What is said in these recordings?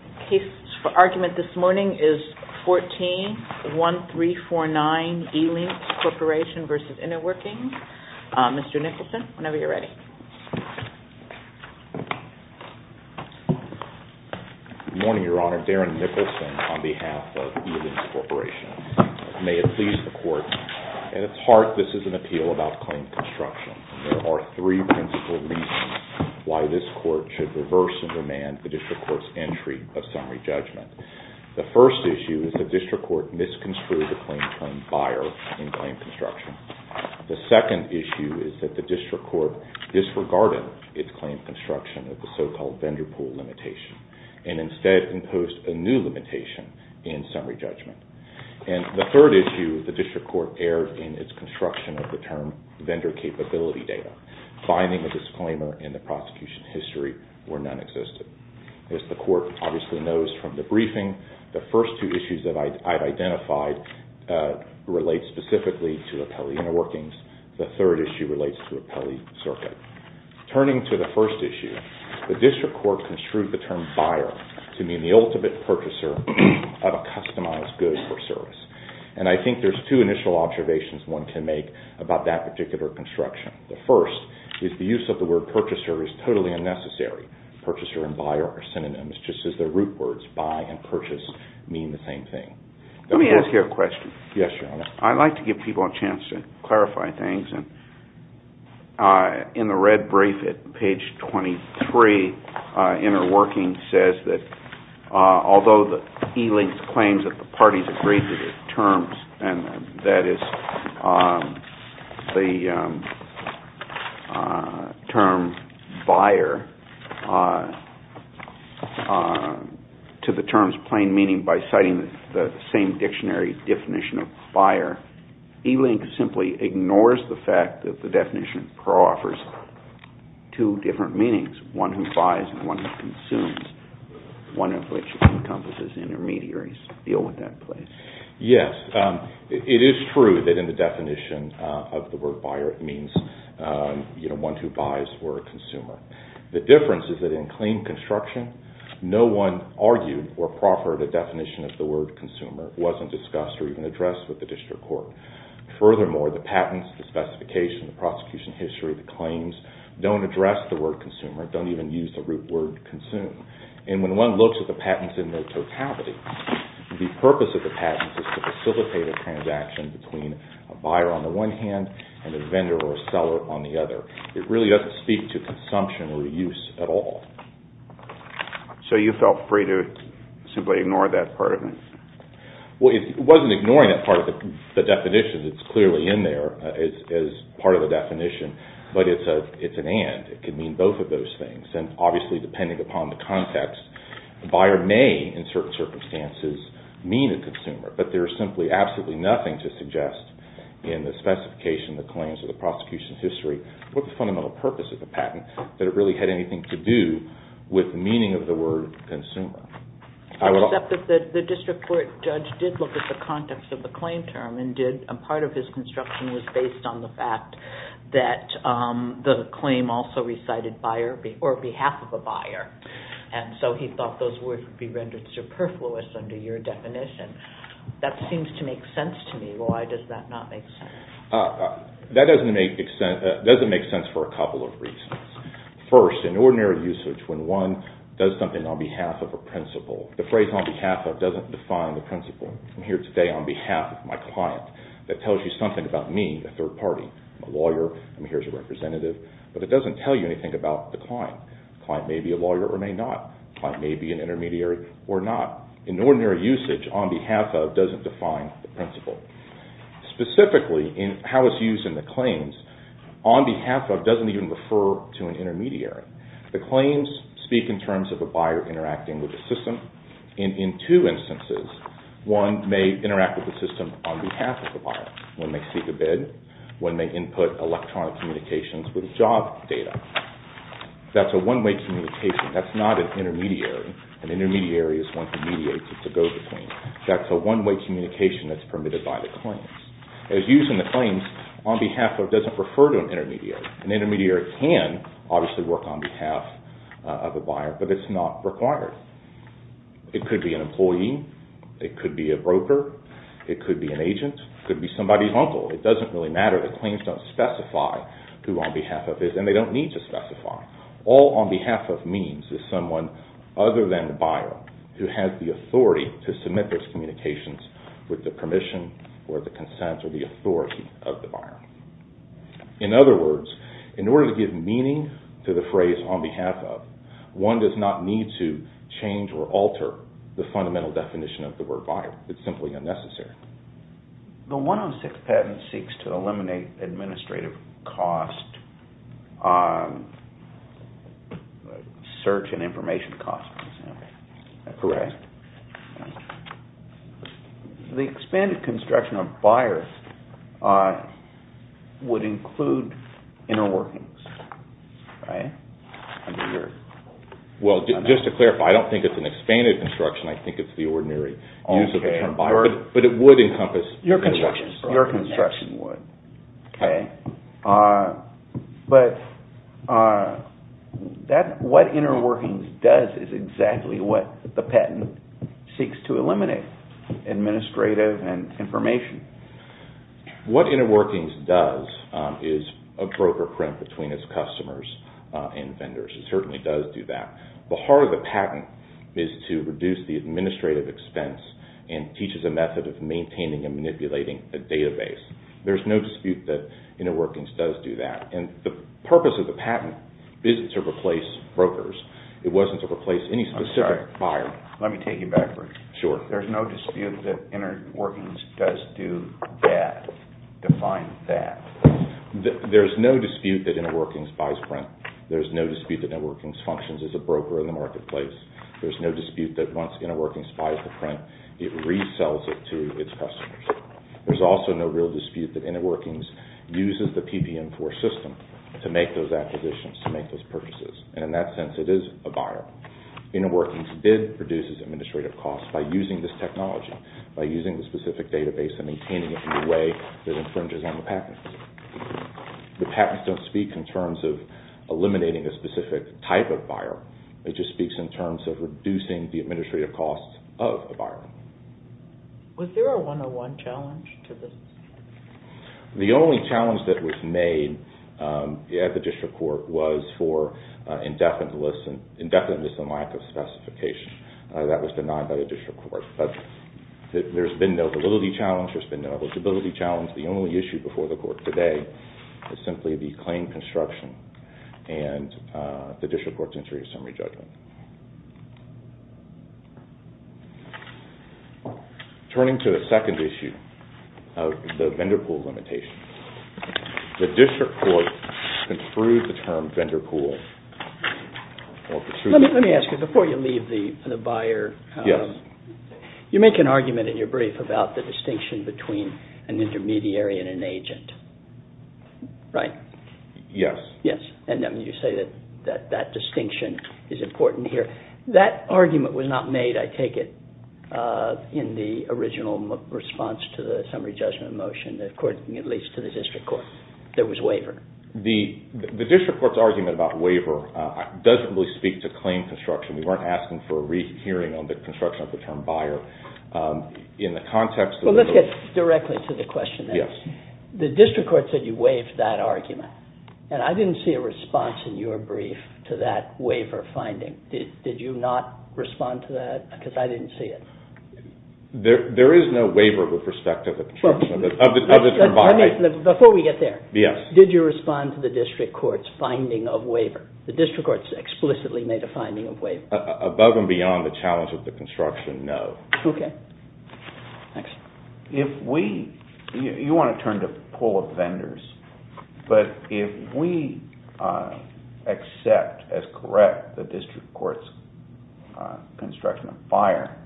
The case for argument this morning is 14-1349 E-LYNXX Corporation v. InnerWorkings. Mr. Nicholson, whenever you're ready. Good morning, Your Honor. Darren Nicholson on behalf of E-LYNXX Corporation. May it please the Court, at its heart this is an appeal about claim construction. There are three principal reasons why this Court should reverse and demand the District Court's entry of summary judgment. The first issue is the District Court misconstrued the claim to claim buyer in claim construction. The second issue is that the District Court disregarded its claim construction with the so-called vendor pool limitation and instead imposed a new limitation in summary judgment. And the third issue, the District Court erred in its construction of the term vendor capability data. Finding a disclaimer in the prosecution history where none existed. As the Court obviously knows from the briefing, the first two issues that I've identified relate specifically to Appellee InnerWorkings. The third issue relates to Appellee Circuit. Turning to the first issue, the District Court construed the term buyer to mean the ultimate purchaser of a customized good or service. And I think there's two initial observations one can make about that particular construction. The first is the use of the word purchaser is totally unnecessary. Purchaser and buyer are synonyms just as the root words buy and purchase mean the same thing. Let me ask you a question. Yes, Your Honor. I'd like to give people a chance to clarify things. In the red brief at page 23, InnerWorking says that although the e-linked claims that the parties agreed to the terms, and that is the term buyer, to the terms plain meaning by citing the same dictionary definition of buyer, e-link simply ignores the fact that the definition of pro offers two different meanings, one who buys and one who consumes, one of which encompasses intermediaries to deal with that claim. Yes, it is true that in the definition of the word buyer it means one who buys or a consumer. The difference is that in claim construction, no one argued or proffered a definition of the word consumer. It wasn't discussed or even addressed with the District Court. Furthermore, the patents, the specification, the prosecution history, the claims don't address the word consumer, don't even use the root word consume. And when one looks at the patents in their totality, the purpose of the patents is to facilitate a transaction between a buyer on the one hand and a vendor or a seller on the other. It really doesn't speak to consumption or use at all. So you felt free to simply ignore that part of it? Well, it wasn't ignoring that part of the definition that's clearly in there as part of the definition, but it's an and. It could mean both of those things. And obviously, depending upon the context, the buyer may, in certain circumstances, mean a consumer. But there is simply absolutely nothing to suggest in the specification, the claims, or the prosecution history what the fundamental purpose of the patent, that it really had anything to do with the meaning of the word consumer. Except that the District Court judge did look at the context of the claim term and did, part of his construction was based on the fact that the claim also recited buyer or behalf of a buyer. And so he thought those words would be rendered superfluous under your definition. That seems to make sense to me. Why does that not make sense? That doesn't make sense for a couple of reasons. First, in ordinary usage, when one does something on behalf of a principal, the phrase on behalf of doesn't define the principal. I'm here today on behalf of my client. That tells you something about me, a third party. I'm a lawyer. I'm here as a representative. But it doesn't tell you anything about the client. The client may be a lawyer or may not. The client may be an intermediary or not. In ordinary usage, on behalf of doesn't define the principal. Specifically, in how it's used in the claims, on behalf of doesn't even refer to an intermediary. The claims speak in terms of a buyer interacting with the system. In two instances, one may interact with the system on behalf of the buyer. One may seek a bid. One may input electronic communications with job data. That's a one-way communication. That's not an intermediary. An intermediary is one who mediates. It's a go-between. That's a one-way communication that's permitted by the claims. It's used in the claims on behalf of doesn't refer to an intermediary. An intermediary can obviously work on behalf of a buyer, but it's not required. It could be an employee. It could be a broker. It could be an agent. It could be somebody's uncle. It doesn't really matter. The claims don't specify who on behalf of is, and they don't need to specify. All on behalf of means is someone other than the buyer who has the authority to submit those communications with the permission or the consent or the authority of the buyer. In other words, in order to give meaning to the phrase on behalf of, one does not need to change or alter the fundamental definition of the word buyer. It's simply unnecessary. The 106 patent seeks to eliminate administrative costs, search and information costs, for example. That's correct. The expanded construction of buyers would include inner workings. Just to clarify, I don't think it's an expanded construction. I think it's the ordinary use of the term buyer, but it would encompass inner workings. Your construction would. Okay. But what inner workings does is exactly what the patent seeks to eliminate, administrative and information. What inner workings does is a broker print between its customers and vendors. It certainly does do that. The heart of the patent is to reduce the administrative expense and teaches a method of maintaining and manipulating a database. There's no dispute that inner workings does do that. The purpose of the patent isn't to replace brokers. It wasn't to replace any specific buyer. Let me take you backwards. Sure. There's no dispute that inner workings does do that. Define that. There's no dispute that inner workings buys print. There's no dispute that inner workings functions as a broker in the marketplace. There's no dispute that once inner workings buys the print, it resells it to its customers. There's also no real dispute that inner workings uses the PPM4 system to make those acquisitions, to make those purchases. In that sense, it is a buyer. Inner workings did reduce its administrative cost by using this technology, by using the specific database and maintaining it in a way that infringes on the patents. The patents don't speak in terms of eliminating a specific type of buyer. It just speaks in terms of reducing the administrative cost of a buyer. Was there a 101 challenge to this? The only challenge that was made at the district court was for indefiniteness and lack of specification. That was denied by the district court. But there's been no validity challenge. There's been no eligibility challenge. The only issue before the court today is simply the claim construction and the district court's entry to summary judgment. Turning to the second issue of the vendor pool limitation, the district court construed the term vendor pool. Let me ask you, before you leave the buyer, you make an argument in your brief about the distinction between an intermediary and an agent, right? Yes. Yes, and you say that that distinction is important here. That argument was not made, I take it, in the original response to the summary judgment motion, according at least to the district court. There was waiver. The district court's argument about waiver doesn't really speak to claim construction. We weren't asking for a rehearing on the construction of the term buyer. In the context of the- Well, let's get directly to the question then. Yes. The district court said you waived that argument, and I didn't see a response in your brief to that waiver finding. Did you not respond to that? Because I didn't see it. There is no waiver with respect to the construction of the term buyer. Before we get there, did you respond to the district court's finding of waiver? The district court's explicitly made a finding of waiver. Above and beyond the challenge of the construction, no. Okay. Thanks. You want to turn to pool of vendors, but if we accept as correct the district court's construction of buyer,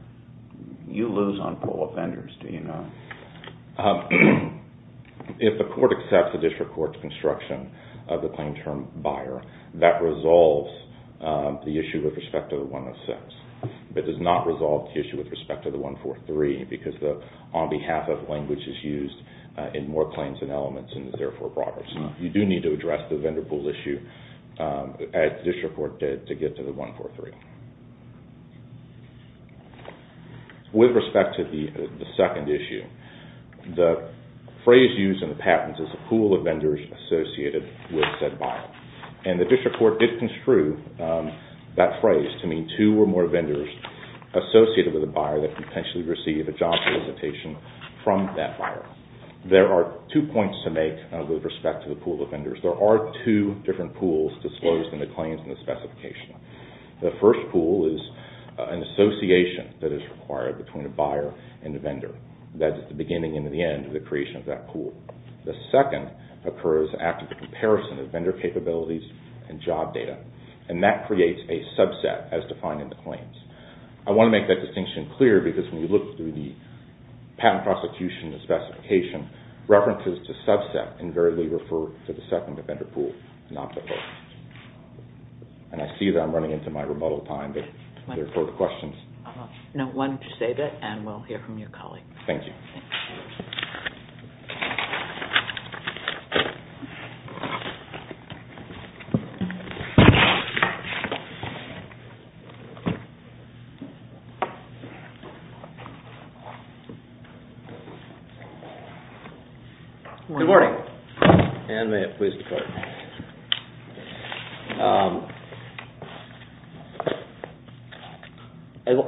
you lose on pool of vendors, do you not? If the court accepts the district court's construction of the claim term buyer, that resolves the issue with respect to the 106. It does not resolve the issue with respect to the 143, because the on behalf of language is used in more claims and elements and is therefore broader. You do need to address the vendor pool issue, as the district court did, to get to the 143. With respect to the second issue, the phrase used in the patents is the pool of vendors associated with said buyer. The district court did construe that phrase to mean two or more vendors associated with a buyer that could potentially receive a job solicitation from that buyer. There are two points to make with respect to the pool of vendors. There are two different pools disclosed in the claims and the specification. The first pool is an association that is required between a buyer and a vendor. That is the beginning and the end of the creation of that pool. The second occurs after the comparison of vendor capabilities and job data, and that creates a subset as defined in the claims. I want to make that distinction clear, because when you look through the patent prosecution and specification, references to subset invariably refer to the second vendor pool, not the first. I see that I'm running into my rebuttal time, but are there further questions? No, why don't you save it, and we'll hear from your colleague. Thank you. Good morning. Ann, may I please declare?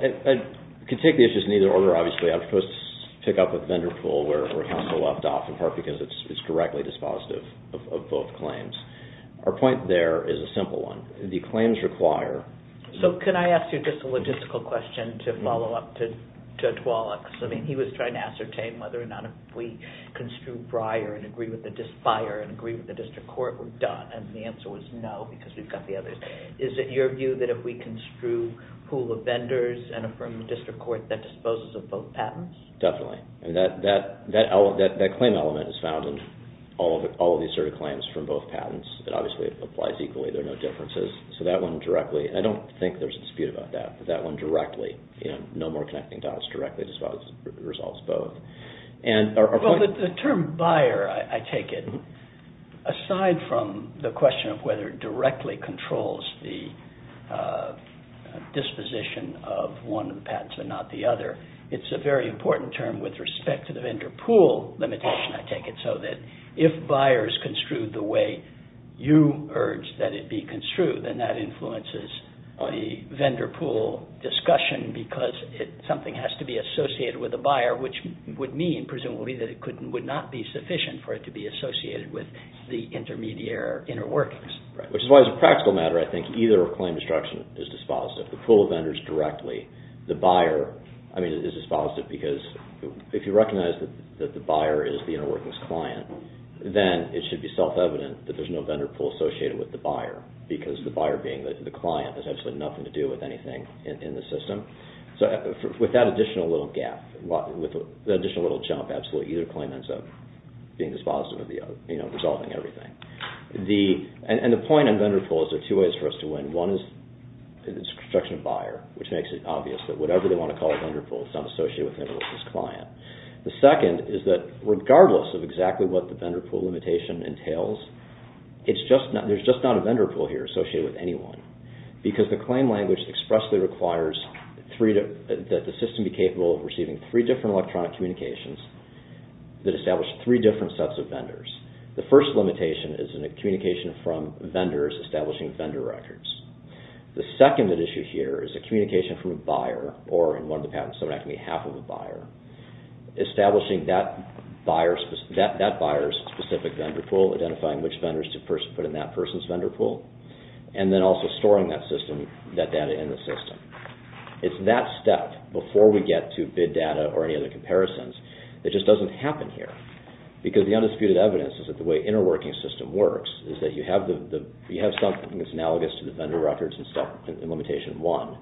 I can take the issues in either order, obviously. I'm supposed to pick up with vendor pool, where it has the left off, in part because it's directly dispositive of both claims. Our point there is a simple one. The claims require... So, can I ask you just a logistical question to follow up to Judge Wallach's? He was trying to ascertain whether or not if we construe briar and agree with the disfire and agree with the district court, we're done. And the answer was no, because we've got the others. Is it your view that if we construe pool of vendors and affirm the district court, that disposes of both patents? Definitely. That claim element is found in all of the asserted claims from both patents. It obviously applies equally. There are no differences. So that one directly... I don't think there's a dispute about that, but that one directly, no more connecting dots, directly disposes, resolves both. Well, the term buyer, I take it, aside from the question of whether it directly controls the disposition of one of the patents but not the other, it's a very important term with respect to the vendor pool limitation, I take it, so that if buyers construed the way you urge that it be construed, then that influences the vendor pool discussion because something has to be associated with the buyer, which would mean, presumably, that it would not be sufficient for it to be associated with the intermediary or inner workings. Which is why, as a practical matter, I think either claim destruction is dispositive. The pool of vendors directly, the buyer is dispositive because if you recognize that the buyer is the inner workings client, then it should be self-evident that there's no vendor pool associated with the buyer because the buyer being the client has absolutely nothing to do with anything in the system. So with that additional little gap, with that additional little jump, absolutely either claim ends up being dispositive of the other, resolving everything. And the point on vendor pools, there are two ways for us to win. One is construction of buyer, which makes it obvious that whatever they want to call a vendor pool is not associated with him or with his client. The second is that regardless of exactly what the vendor pool limitation entails, there's just not a vendor pool here associated with anyone because the claim language expressly requires that the system be capable of receiving three different electronic communications that establish three different sets of vendors. The first limitation is a communication from vendors establishing vendor records. The second issue here is a communication from a buyer, or in one of the patents, it would have to be half of a buyer, establishing that buyer's specific vendor pool, identifying which vendors to put in that person's vendor pool, and then also storing that system, that data in the system. It's that step before we get to bid data or any other comparisons that just doesn't happen here because the undisputed evidence is that the way interworking system works is that you have something that's analogous to the vendor records and stuff in limitation one.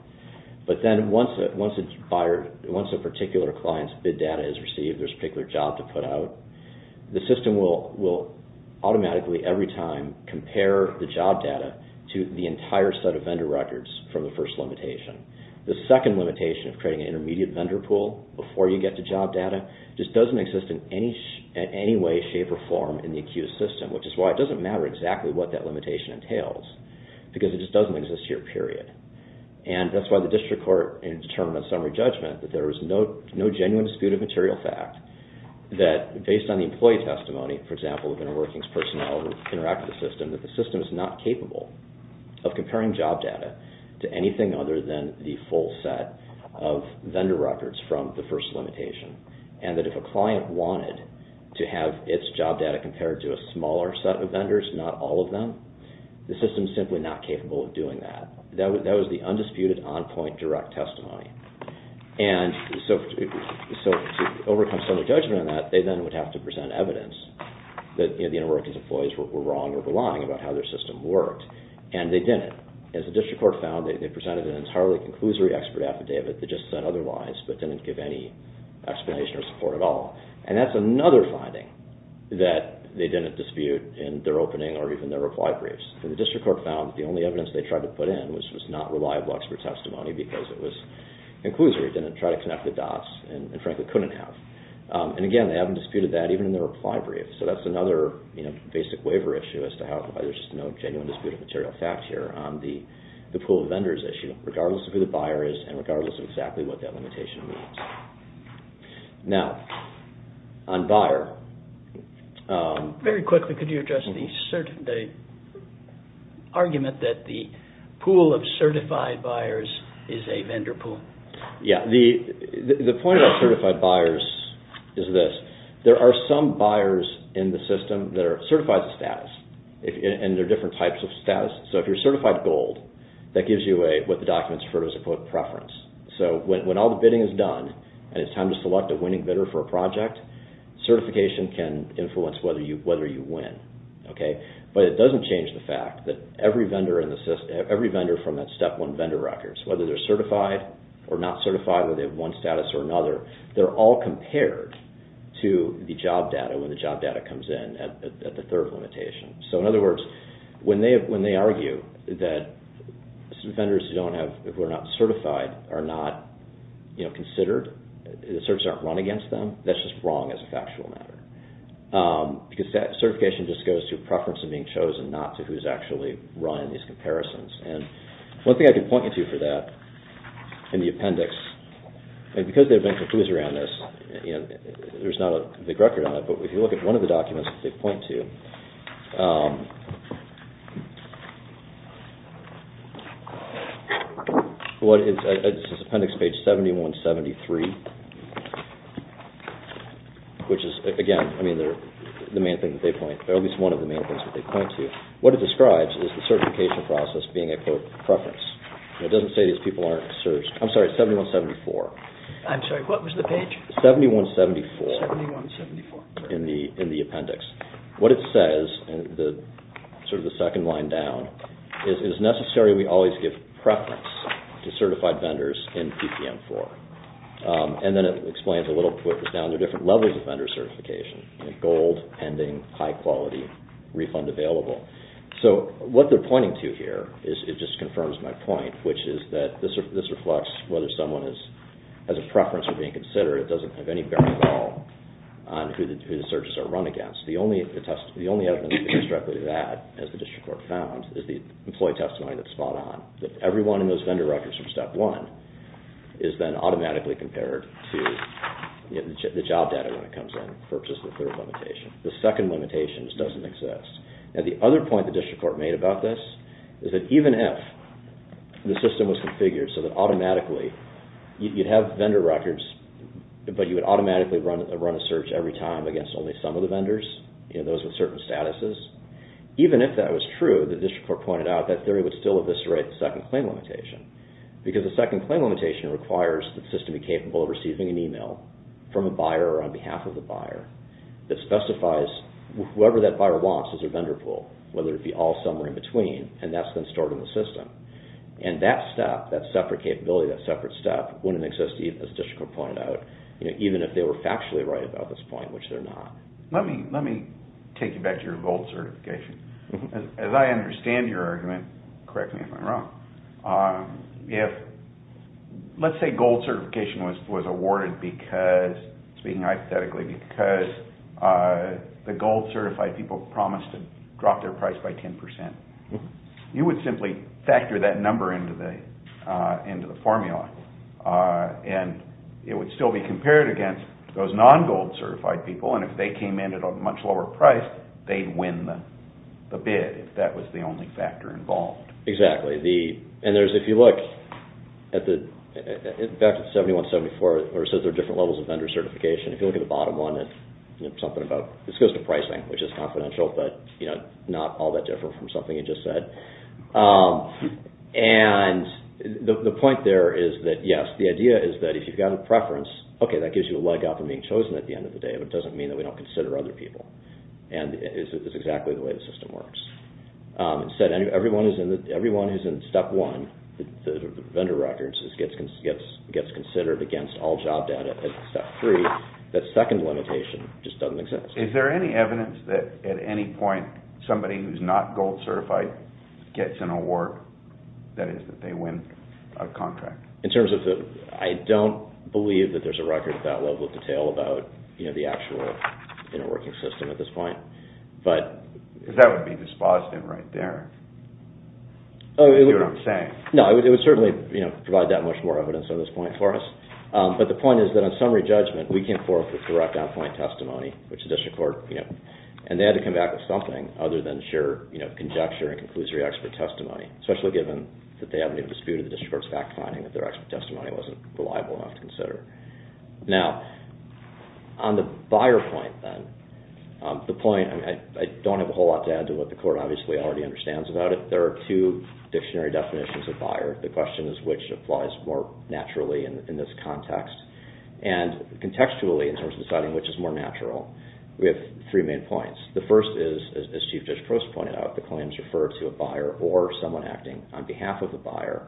But then once a particular client's bid data is received, there's a particular job to put out, the system will automatically every time compare the job data to the entire set of vendor records from the first limitation. The second limitation of creating an intermediate vendor pool before you get to job data just doesn't exist in any way, shape, or form in the ACCUSE system, which is why it doesn't matter exactly what that limitation entails because it just doesn't exist here, period. And that's why the district court in its term of summary judgment that there is no genuine disputed material fact that based on the employee testimony, for example, of interworking personnel who interact with the system, that the system is not capable of comparing job data to anything other than the full set of vendor records from the first limitation. And that if a client wanted to have its job data compared to a smaller set of vendors, not all of them, the system is simply not capable of doing that. That was the undisputed on-point direct testimony. And so to overcome summary judgment on that, they then would have to present evidence that the interworking employees were wrong or were lying about how their system worked. And they didn't. As the district court found, they presented an entirely conclusory expert affidavit that just said otherwise but didn't give any explanation or support at all. And that's another finding that they didn't dispute in their opening or even their reply briefs. The district court found that the only evidence they tried to put in was not reliable expert testimony because it was conclusory. It didn't try to connect the dots and frankly couldn't have. And again, they haven't disputed that even in their reply brief. So that's another basic waiver issue as to how there's just no genuine disputed material fact here on the pool of vendors issue regardless of who the buyer is and regardless of exactly what that limitation means. Now, on buyer... argument that the pool of certified buyers is a vendor pool. Yeah. The point about certified buyers is this. There are some buyers in the system that are certified status and there are different types of status. So if you're certified gold, that gives you what the documents refer to as a quote preference. So when all the bidding is done and it's time to select a winning bidder for a project, certification can influence whether you win. But it doesn't change the fact that every vendor from that step one vendor records, whether they're certified or not certified, whether they have one status or another, they're all compared to the job data when the job data comes in at the third limitation. So in other words, when they argue that vendors who are not certified are not considered, the services aren't run against them, that's just wrong as a factual matter because that certification just goes to preference of being chosen, not to who's actually run in these comparisons. And one thing I can point you to for that in the appendix, and because there have been conclusions around this, there's not a big record on it, but if you look at one of the documents that they point to, this is appendix page 7173, which is, again, the main thing that they point to, or at least one of the main things that they point to, what it describes is the certification process being a, quote, preference. It doesn't say these people aren't searched. I'm sorry, 7174. I'm sorry, what was the page? 7174. 7174. In the appendix. What it says, sort of the second line down, is it is necessary we always give preference to certified vendors in PPM4. And then it explains a little, put this down, there are different levels of vendor certification, gold, pending, high quality, refund available. So what they're pointing to here, it just confirms my point, which is that this reflects whether someone has a preference for being considered, it doesn't have any bearing at all on who the searches are run against. The only evidence that goes directly to that, as the district court found, is the employee testimony that's spot on, that everyone in those vendor records from step one is then automatically compared to the job data when it comes in, versus the third limitation. The second limitation just doesn't exist. Now, the other point the district court made about this is that even if the system was configured so that automatically, you'd have vendor records, but you would automatically run a search every time against only some of the vendors, those with certain statuses, even if that was true, the district court pointed out, that theory would still eviscerate the second claim limitation because the second claim limitation requires the system be capable of receiving an email from a buyer or on behalf of the buyer that specifies whoever that buyer wants as their vendor pool, whether it be all somewhere in between, and that's then stored in the system. And that step, that separate capability, that separate step, wouldn't exist, as the district court pointed out, even if they were factually right about this point, which they're not. Let me take you back to your gold certification. As I understand your argument, correct me if I'm wrong, if, let's say gold certification was awarded because, speaking hypothetically, because the gold certified people promised to drop their price by 10%, you would simply factor that number into the formula, and it would still be compared against those non-gold certified people, and if they came in at a much lower price, they'd win the bid, if that was the only factor involved. Exactly. And there's, if you look at the, back to 7174, where it says there are different levels of vendor certification, if you look at the bottom one, it's something about, this goes to pricing, which is confidential, but not all that different from something you just said. And the point there is that, yes, the idea is that if you've got a preference, okay, that gives you a leg up in being chosen at the end of the day, but it doesn't mean that we don't consider other people, and it's exactly the way the system works. Instead, everyone who's in step one, the vendor records, gets considered against all job data at step three. That second limitation just doesn't exist. Is there any evidence that at any point somebody who's not gold certified gets an award, that is, that they win a contract? In terms of the, I don't believe that there's a record at that level of detail about, you know, the actual interworking system at this point. Because that would be dispositive right there, if you hear what I'm saying. No, it would certainly, you know, provide that much more evidence on this point for us. But the point is that on summary judgment, we came forth with direct on-point testimony, which the district court, you know, and they had to come back with something other than sheer, you know, conjecture and conclusory expert testimony, especially given that they haven't been disputed, the district court's fact-finding that their expert testimony wasn't reliable enough to consider. Now, on the buyer point, then, the point, I don't have a whole lot to add to what the court obviously already understands about it. There are two dictionary definitions of buyer. The question is which applies more naturally in this context. And contextually, in terms of deciding which is more natural, we have three main points. The first is, as Chief Judge Prost pointed out, the claims refer to a buyer or someone acting on behalf of the buyer.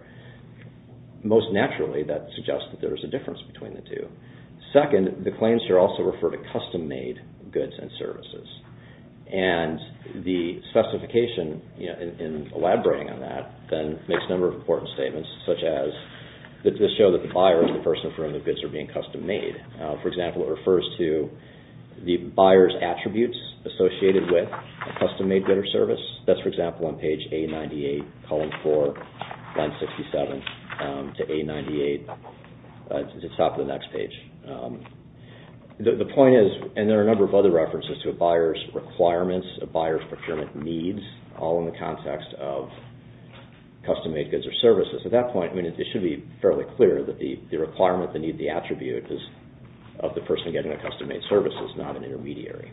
Most naturally, that suggests that there is a difference between the two. Second, the claims here also refer to custom-made goods and services. And the specification, you know, in elaborating on that, then makes a number of important statements, such as this shows that the buyer is the person for whom the goods are being custom-made. For example, it refers to the buyer's attributes associated with a custom-made good or service. That's, for example, on page A98, column 4, line 67 to A98, at the top of the next page. The point is, and there are a number of other references to a buyer's requirements, a buyer's procurement needs, all in the context of custom-made goods or services. At that point, I mean, it should be fairly clear that the requirement, the need, the attribute is of the person getting a custom-made service, it's not an intermediary.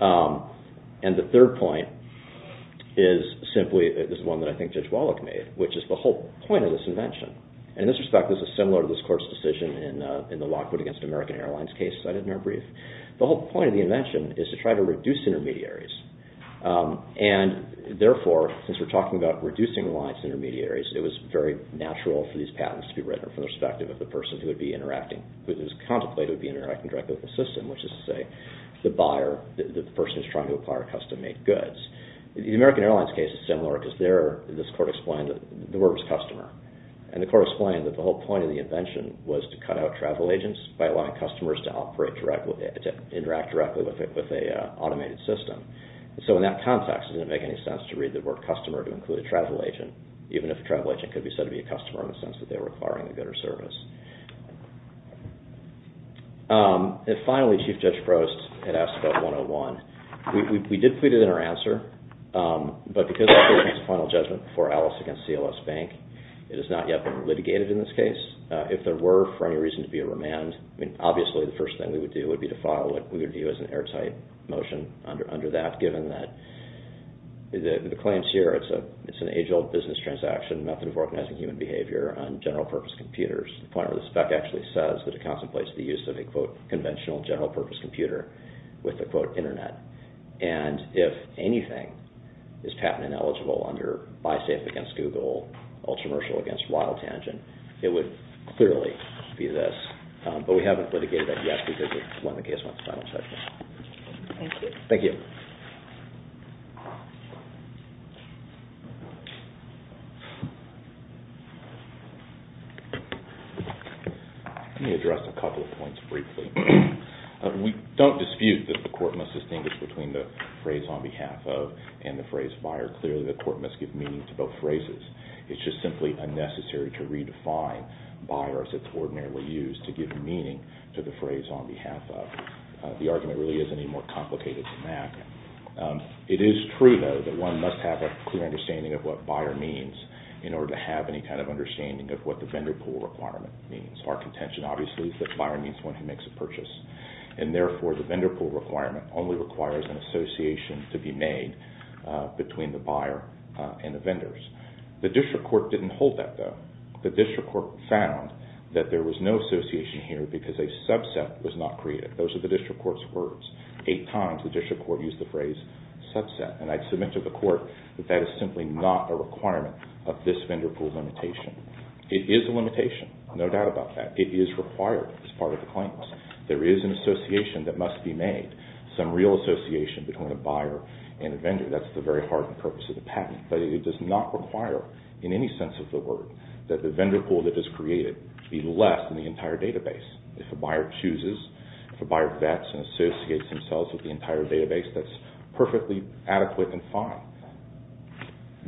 And the third point is simply, this is one that I think Judge Wallach made, which is the whole point of this invention. In this respect, this is similar to this court's decision in the Lockwood v. American Airlines case I did in our brief. The whole point of the invention is to try to reduce intermediaries. And therefore, since we're talking about reducing lines and intermediaries, it was very natural for these patents to be written from the perspective of the person who would be interacting, who is contemplated to be interacting directly with the system, which is to say the buyer, the person who's trying to acquire custom-made goods. The American Airlines case is similar because this court explained that the word was customer. And the court explained that the whole point of the invention was to cut out travel agents by allowing customers to interact directly with an automated system. So in that context, it didn't make any sense to read the word customer to include a travel agent, even if a travel agent could be said to be a customer in the sense that they're requiring a good or service. And finally, Chief Judge Prost had asked about 101. We did put it in our answer, but because I think it's a final judgment before Alice against CLS Bank, it has not yet been litigated in this case. If there were for any reason to be a remand, I mean, obviously the first thing we would do would be to file what we would view as an airtight motion under that, given that the claims here, it's an age-old business transaction, method of organizing human behavior on general-purpose computers. The point of the spec actually says that it contemplates the use of a, quote, conventional general-purpose computer with a, quote, internet. And if anything is patent-ineligible under BySafe against Google, UltraMercial against WildTangent, it would clearly be this. But we haven't litigated that yet because it's when the case went to final judgment. Thank you. Thank you. Let me address a couple of points briefly. We don't dispute that the court must distinguish between the phrase on behalf of and the phrase buyer. Clearly, the court must give meaning to both phrases. It's just simply unnecessary to redefine buyer as it's ordinarily used to give meaning to the phrase on behalf of. The argument really isn't any more complicated than that. It is true, though, that one must have a clear understanding of what buyer means in order to have any kind of understanding of what the vendor pool requirement means. Our contention, obviously, is that buyer means one who makes a purchase. And therefore, the vendor pool requirement only requires an association to be made between the buyer and the vendors. The district court didn't hold that, though. The district court found that there was no association here because a subset was not created. Those are the district court's words. Eight times, the district court used the phrase subset. And I'd submit to the court that that is simply not a requirement of this vendor pool limitation. It is a limitation, no doubt about that. It is required as part of the claims. There is an association that must be made, some real association between a buyer and a vendor. That's the very heart and purpose of the patent. But it does not require, in any sense of the word, that the vendor pool that is created be left in the entire database. If a buyer chooses, if a buyer vets and associates themselves with the entire database, that's perfectly adequate and fine.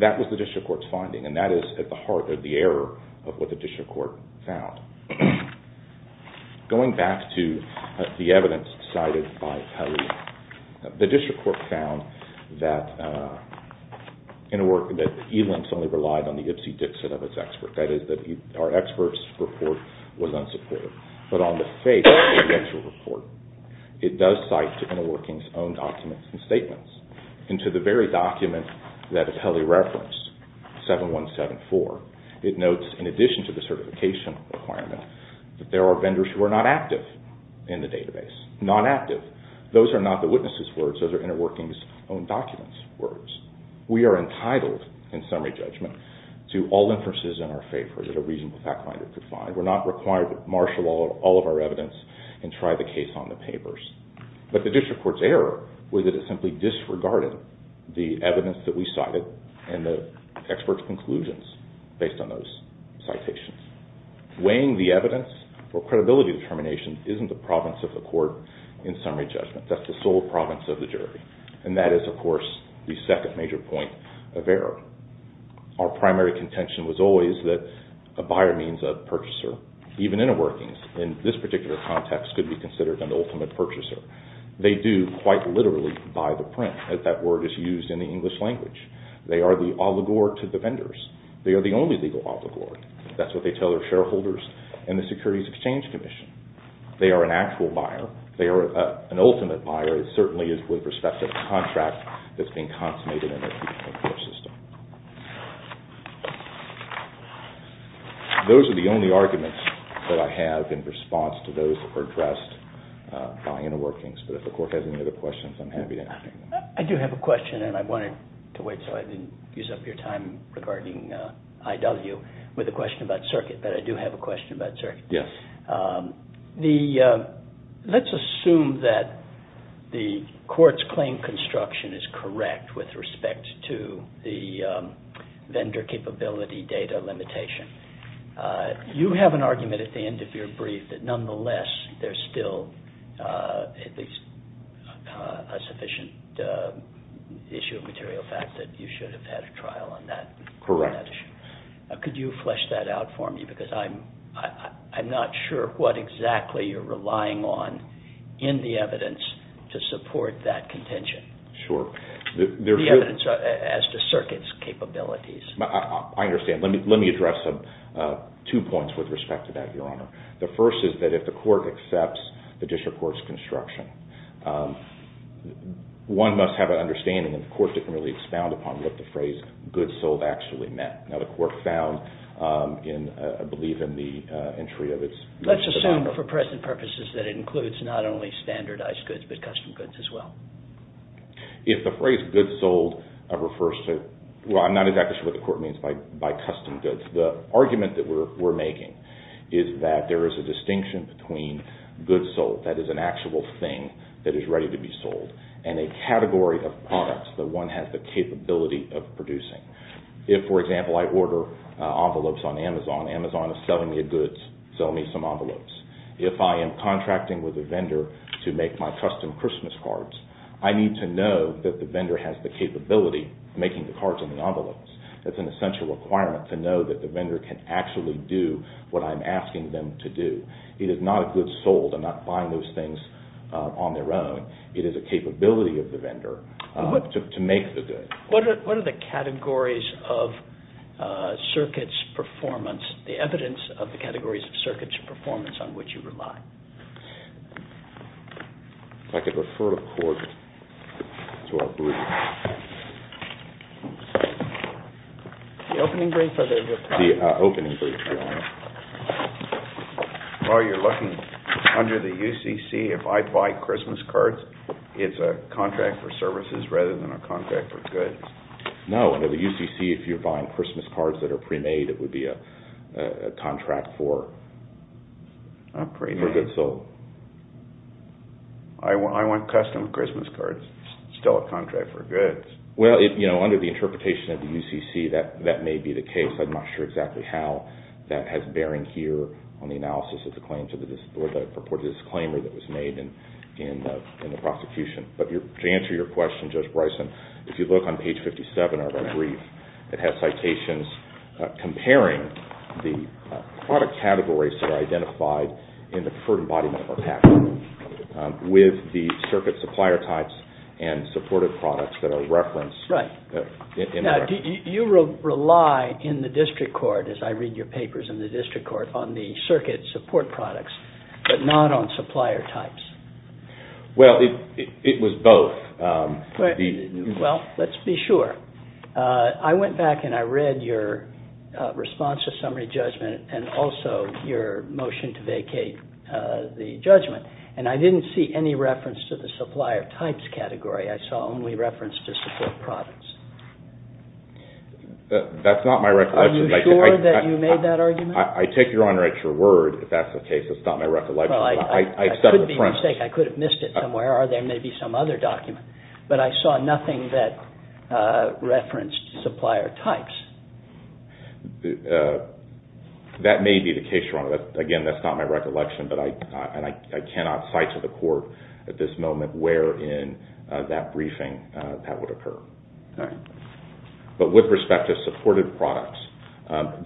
That was the district court's finding, and that is at the heart of the error of what the district court found. Going back to the evidence cited by Pelley, the district court found that InterWorkings only relied on the Ipsy Dixit of its expert. That is, our expert's report was unsupported. But on the face of the actual report, it does cite to InterWorkings' own documents and statements. And to the very document that Pelley referenced, 7174, it notes, in addition to the certification requirement, that there are vendors who are not active in the database. Not active. Those are not the witnesses' words. Those are InterWorkings' own documents' words. We are entitled, in summary judgment, to all inferences in our favor that a reasonable fact-finder could find. We're not required to marshal all of our evidence and try the case on the papers. But the district court's error was that it simply disregarded the evidence that we cited and the expert's conclusions based on those citations. Weighing the evidence for credibility determination isn't the province of the court in summary judgment. That's the sole province of the jury. And that is, of course, the second major point of error. Our primary contention was always that a buyer means a purchaser. Even InterWorkings, in this particular context, could be considered an ultimate purchaser. They do, quite literally, buy the print, as that word is used in the English language. They are the oligarch of the vendors. They are the only legal oligarch. That's what they tell their shareholders and the Securities Exchange Commission. They are an actual buyer. They are an ultimate buyer. It certainly is with respect to the contract that's been consummated in their traditional system. Those are the only arguments that I have in response to those that were addressed by InterWorkings. But if the court has any other questions, I'm happy to answer them. I do have a question, and I wanted to wait so I didn't use up your time regarding IW with a question about Circuit. But I do have a question about Circuit. Yes. Let's assume that the court's claim construction is correct with respect to the vendor capability data limitation. You have an argument at the end of your brief that nonetheless there's still at least a sufficient issue of material fact that you should have had a trial on that. Correct. Could you flesh that out for me? Because I'm not sure what exactly you're relying on in the evidence to support that contention. Sure. The evidence as to Circuit's capabilities. I understand. Let me address two points with respect to that, Your Honor. The first is that if the court accepts the district court's construction, one must have an understanding that the court didn't really expound upon what the phrase goods sold actually meant. Now, the court found, I believe, in the entry of its... Let's assume for present purposes that it includes not only standardized goods but custom goods as well. If the phrase goods sold refers to... Well, I'm not exactly sure what the court means by custom goods. The argument that we're making is that there is a distinction between goods sold, that is an actual thing that is ready to be sold, and a category of products that one has the capability of producing. If, for example, I order envelopes on Amazon, Amazon is selling me a goods, sell me some envelopes. If I am contracting with a vendor to make my custom Christmas cards, I need to know that the vendor has the capability of making the cards and the envelopes. That's an essential requirement, to know that the vendor can actually do what I'm asking them to do. It is not a goods sold. I'm not buying those things on their own. It is a capability of the vendor to make the goods. What are the categories of circuits performance, the evidence of the categories of circuits performance on which you rely? If I could refer the court to our brief. The opening brief or the... The opening brief, Your Honor. Well, you're looking under the UCC. If I buy Christmas cards, it's a contract for services rather than a contract for goods. No, under the UCC, if you're buying Christmas cards that are pre-made, it would be a contract for goods sold. I want custom Christmas cards, still a contract for goods. Well, under the interpretation of the UCC, that may be the case. I'm not sure exactly how that has bearing here on the analysis of the claim or the purported disclaimer that was made in the prosecution. But to answer your question, Judge Bryson, if you look on page 57 of our brief, it has citations comparing the product categories that are identified in the preferred embodiment of our patent with the circuit supplier types and supported products that are referenced... Right. Now, do you rely in the district court, as I read your papers in the district court, on the circuit support products but not on supplier types? Well, it was both. Well, let's be sure. I went back and I read your response to summary judgment and also your motion to vacate the judgment, and I didn't see any reference to the supplier types category. I saw only reference to support products. That's not my recollection. Are you sure that you made that argument? I take your honor at your word if that's the case. It's not my recollection. Well, I couldn't be mistaken. I could have missed it somewhere, or there may be some other document. But I saw nothing that referenced supplier types. That may be the case, Your Honor. Again, that's not my recollection, and I cannot cite to the court at this moment where in that briefing that would occur. But with respect to supported products,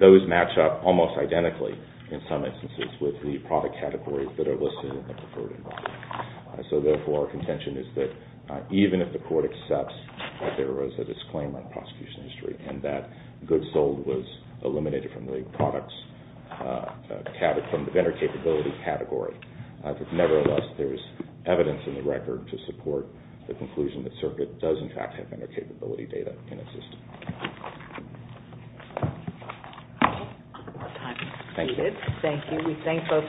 those match up almost identically in some instances with the product categories that are listed in the preferred environment. So therefore, our contention is that even if the court accepts that there was a disclaim on prosecution history and that goods sold was eliminated from the vendor capability category, nevertheless, there is evidence in the record to support the conclusion that Circuit does, in fact, have vendor capability data in its system. Thank you. Thank you.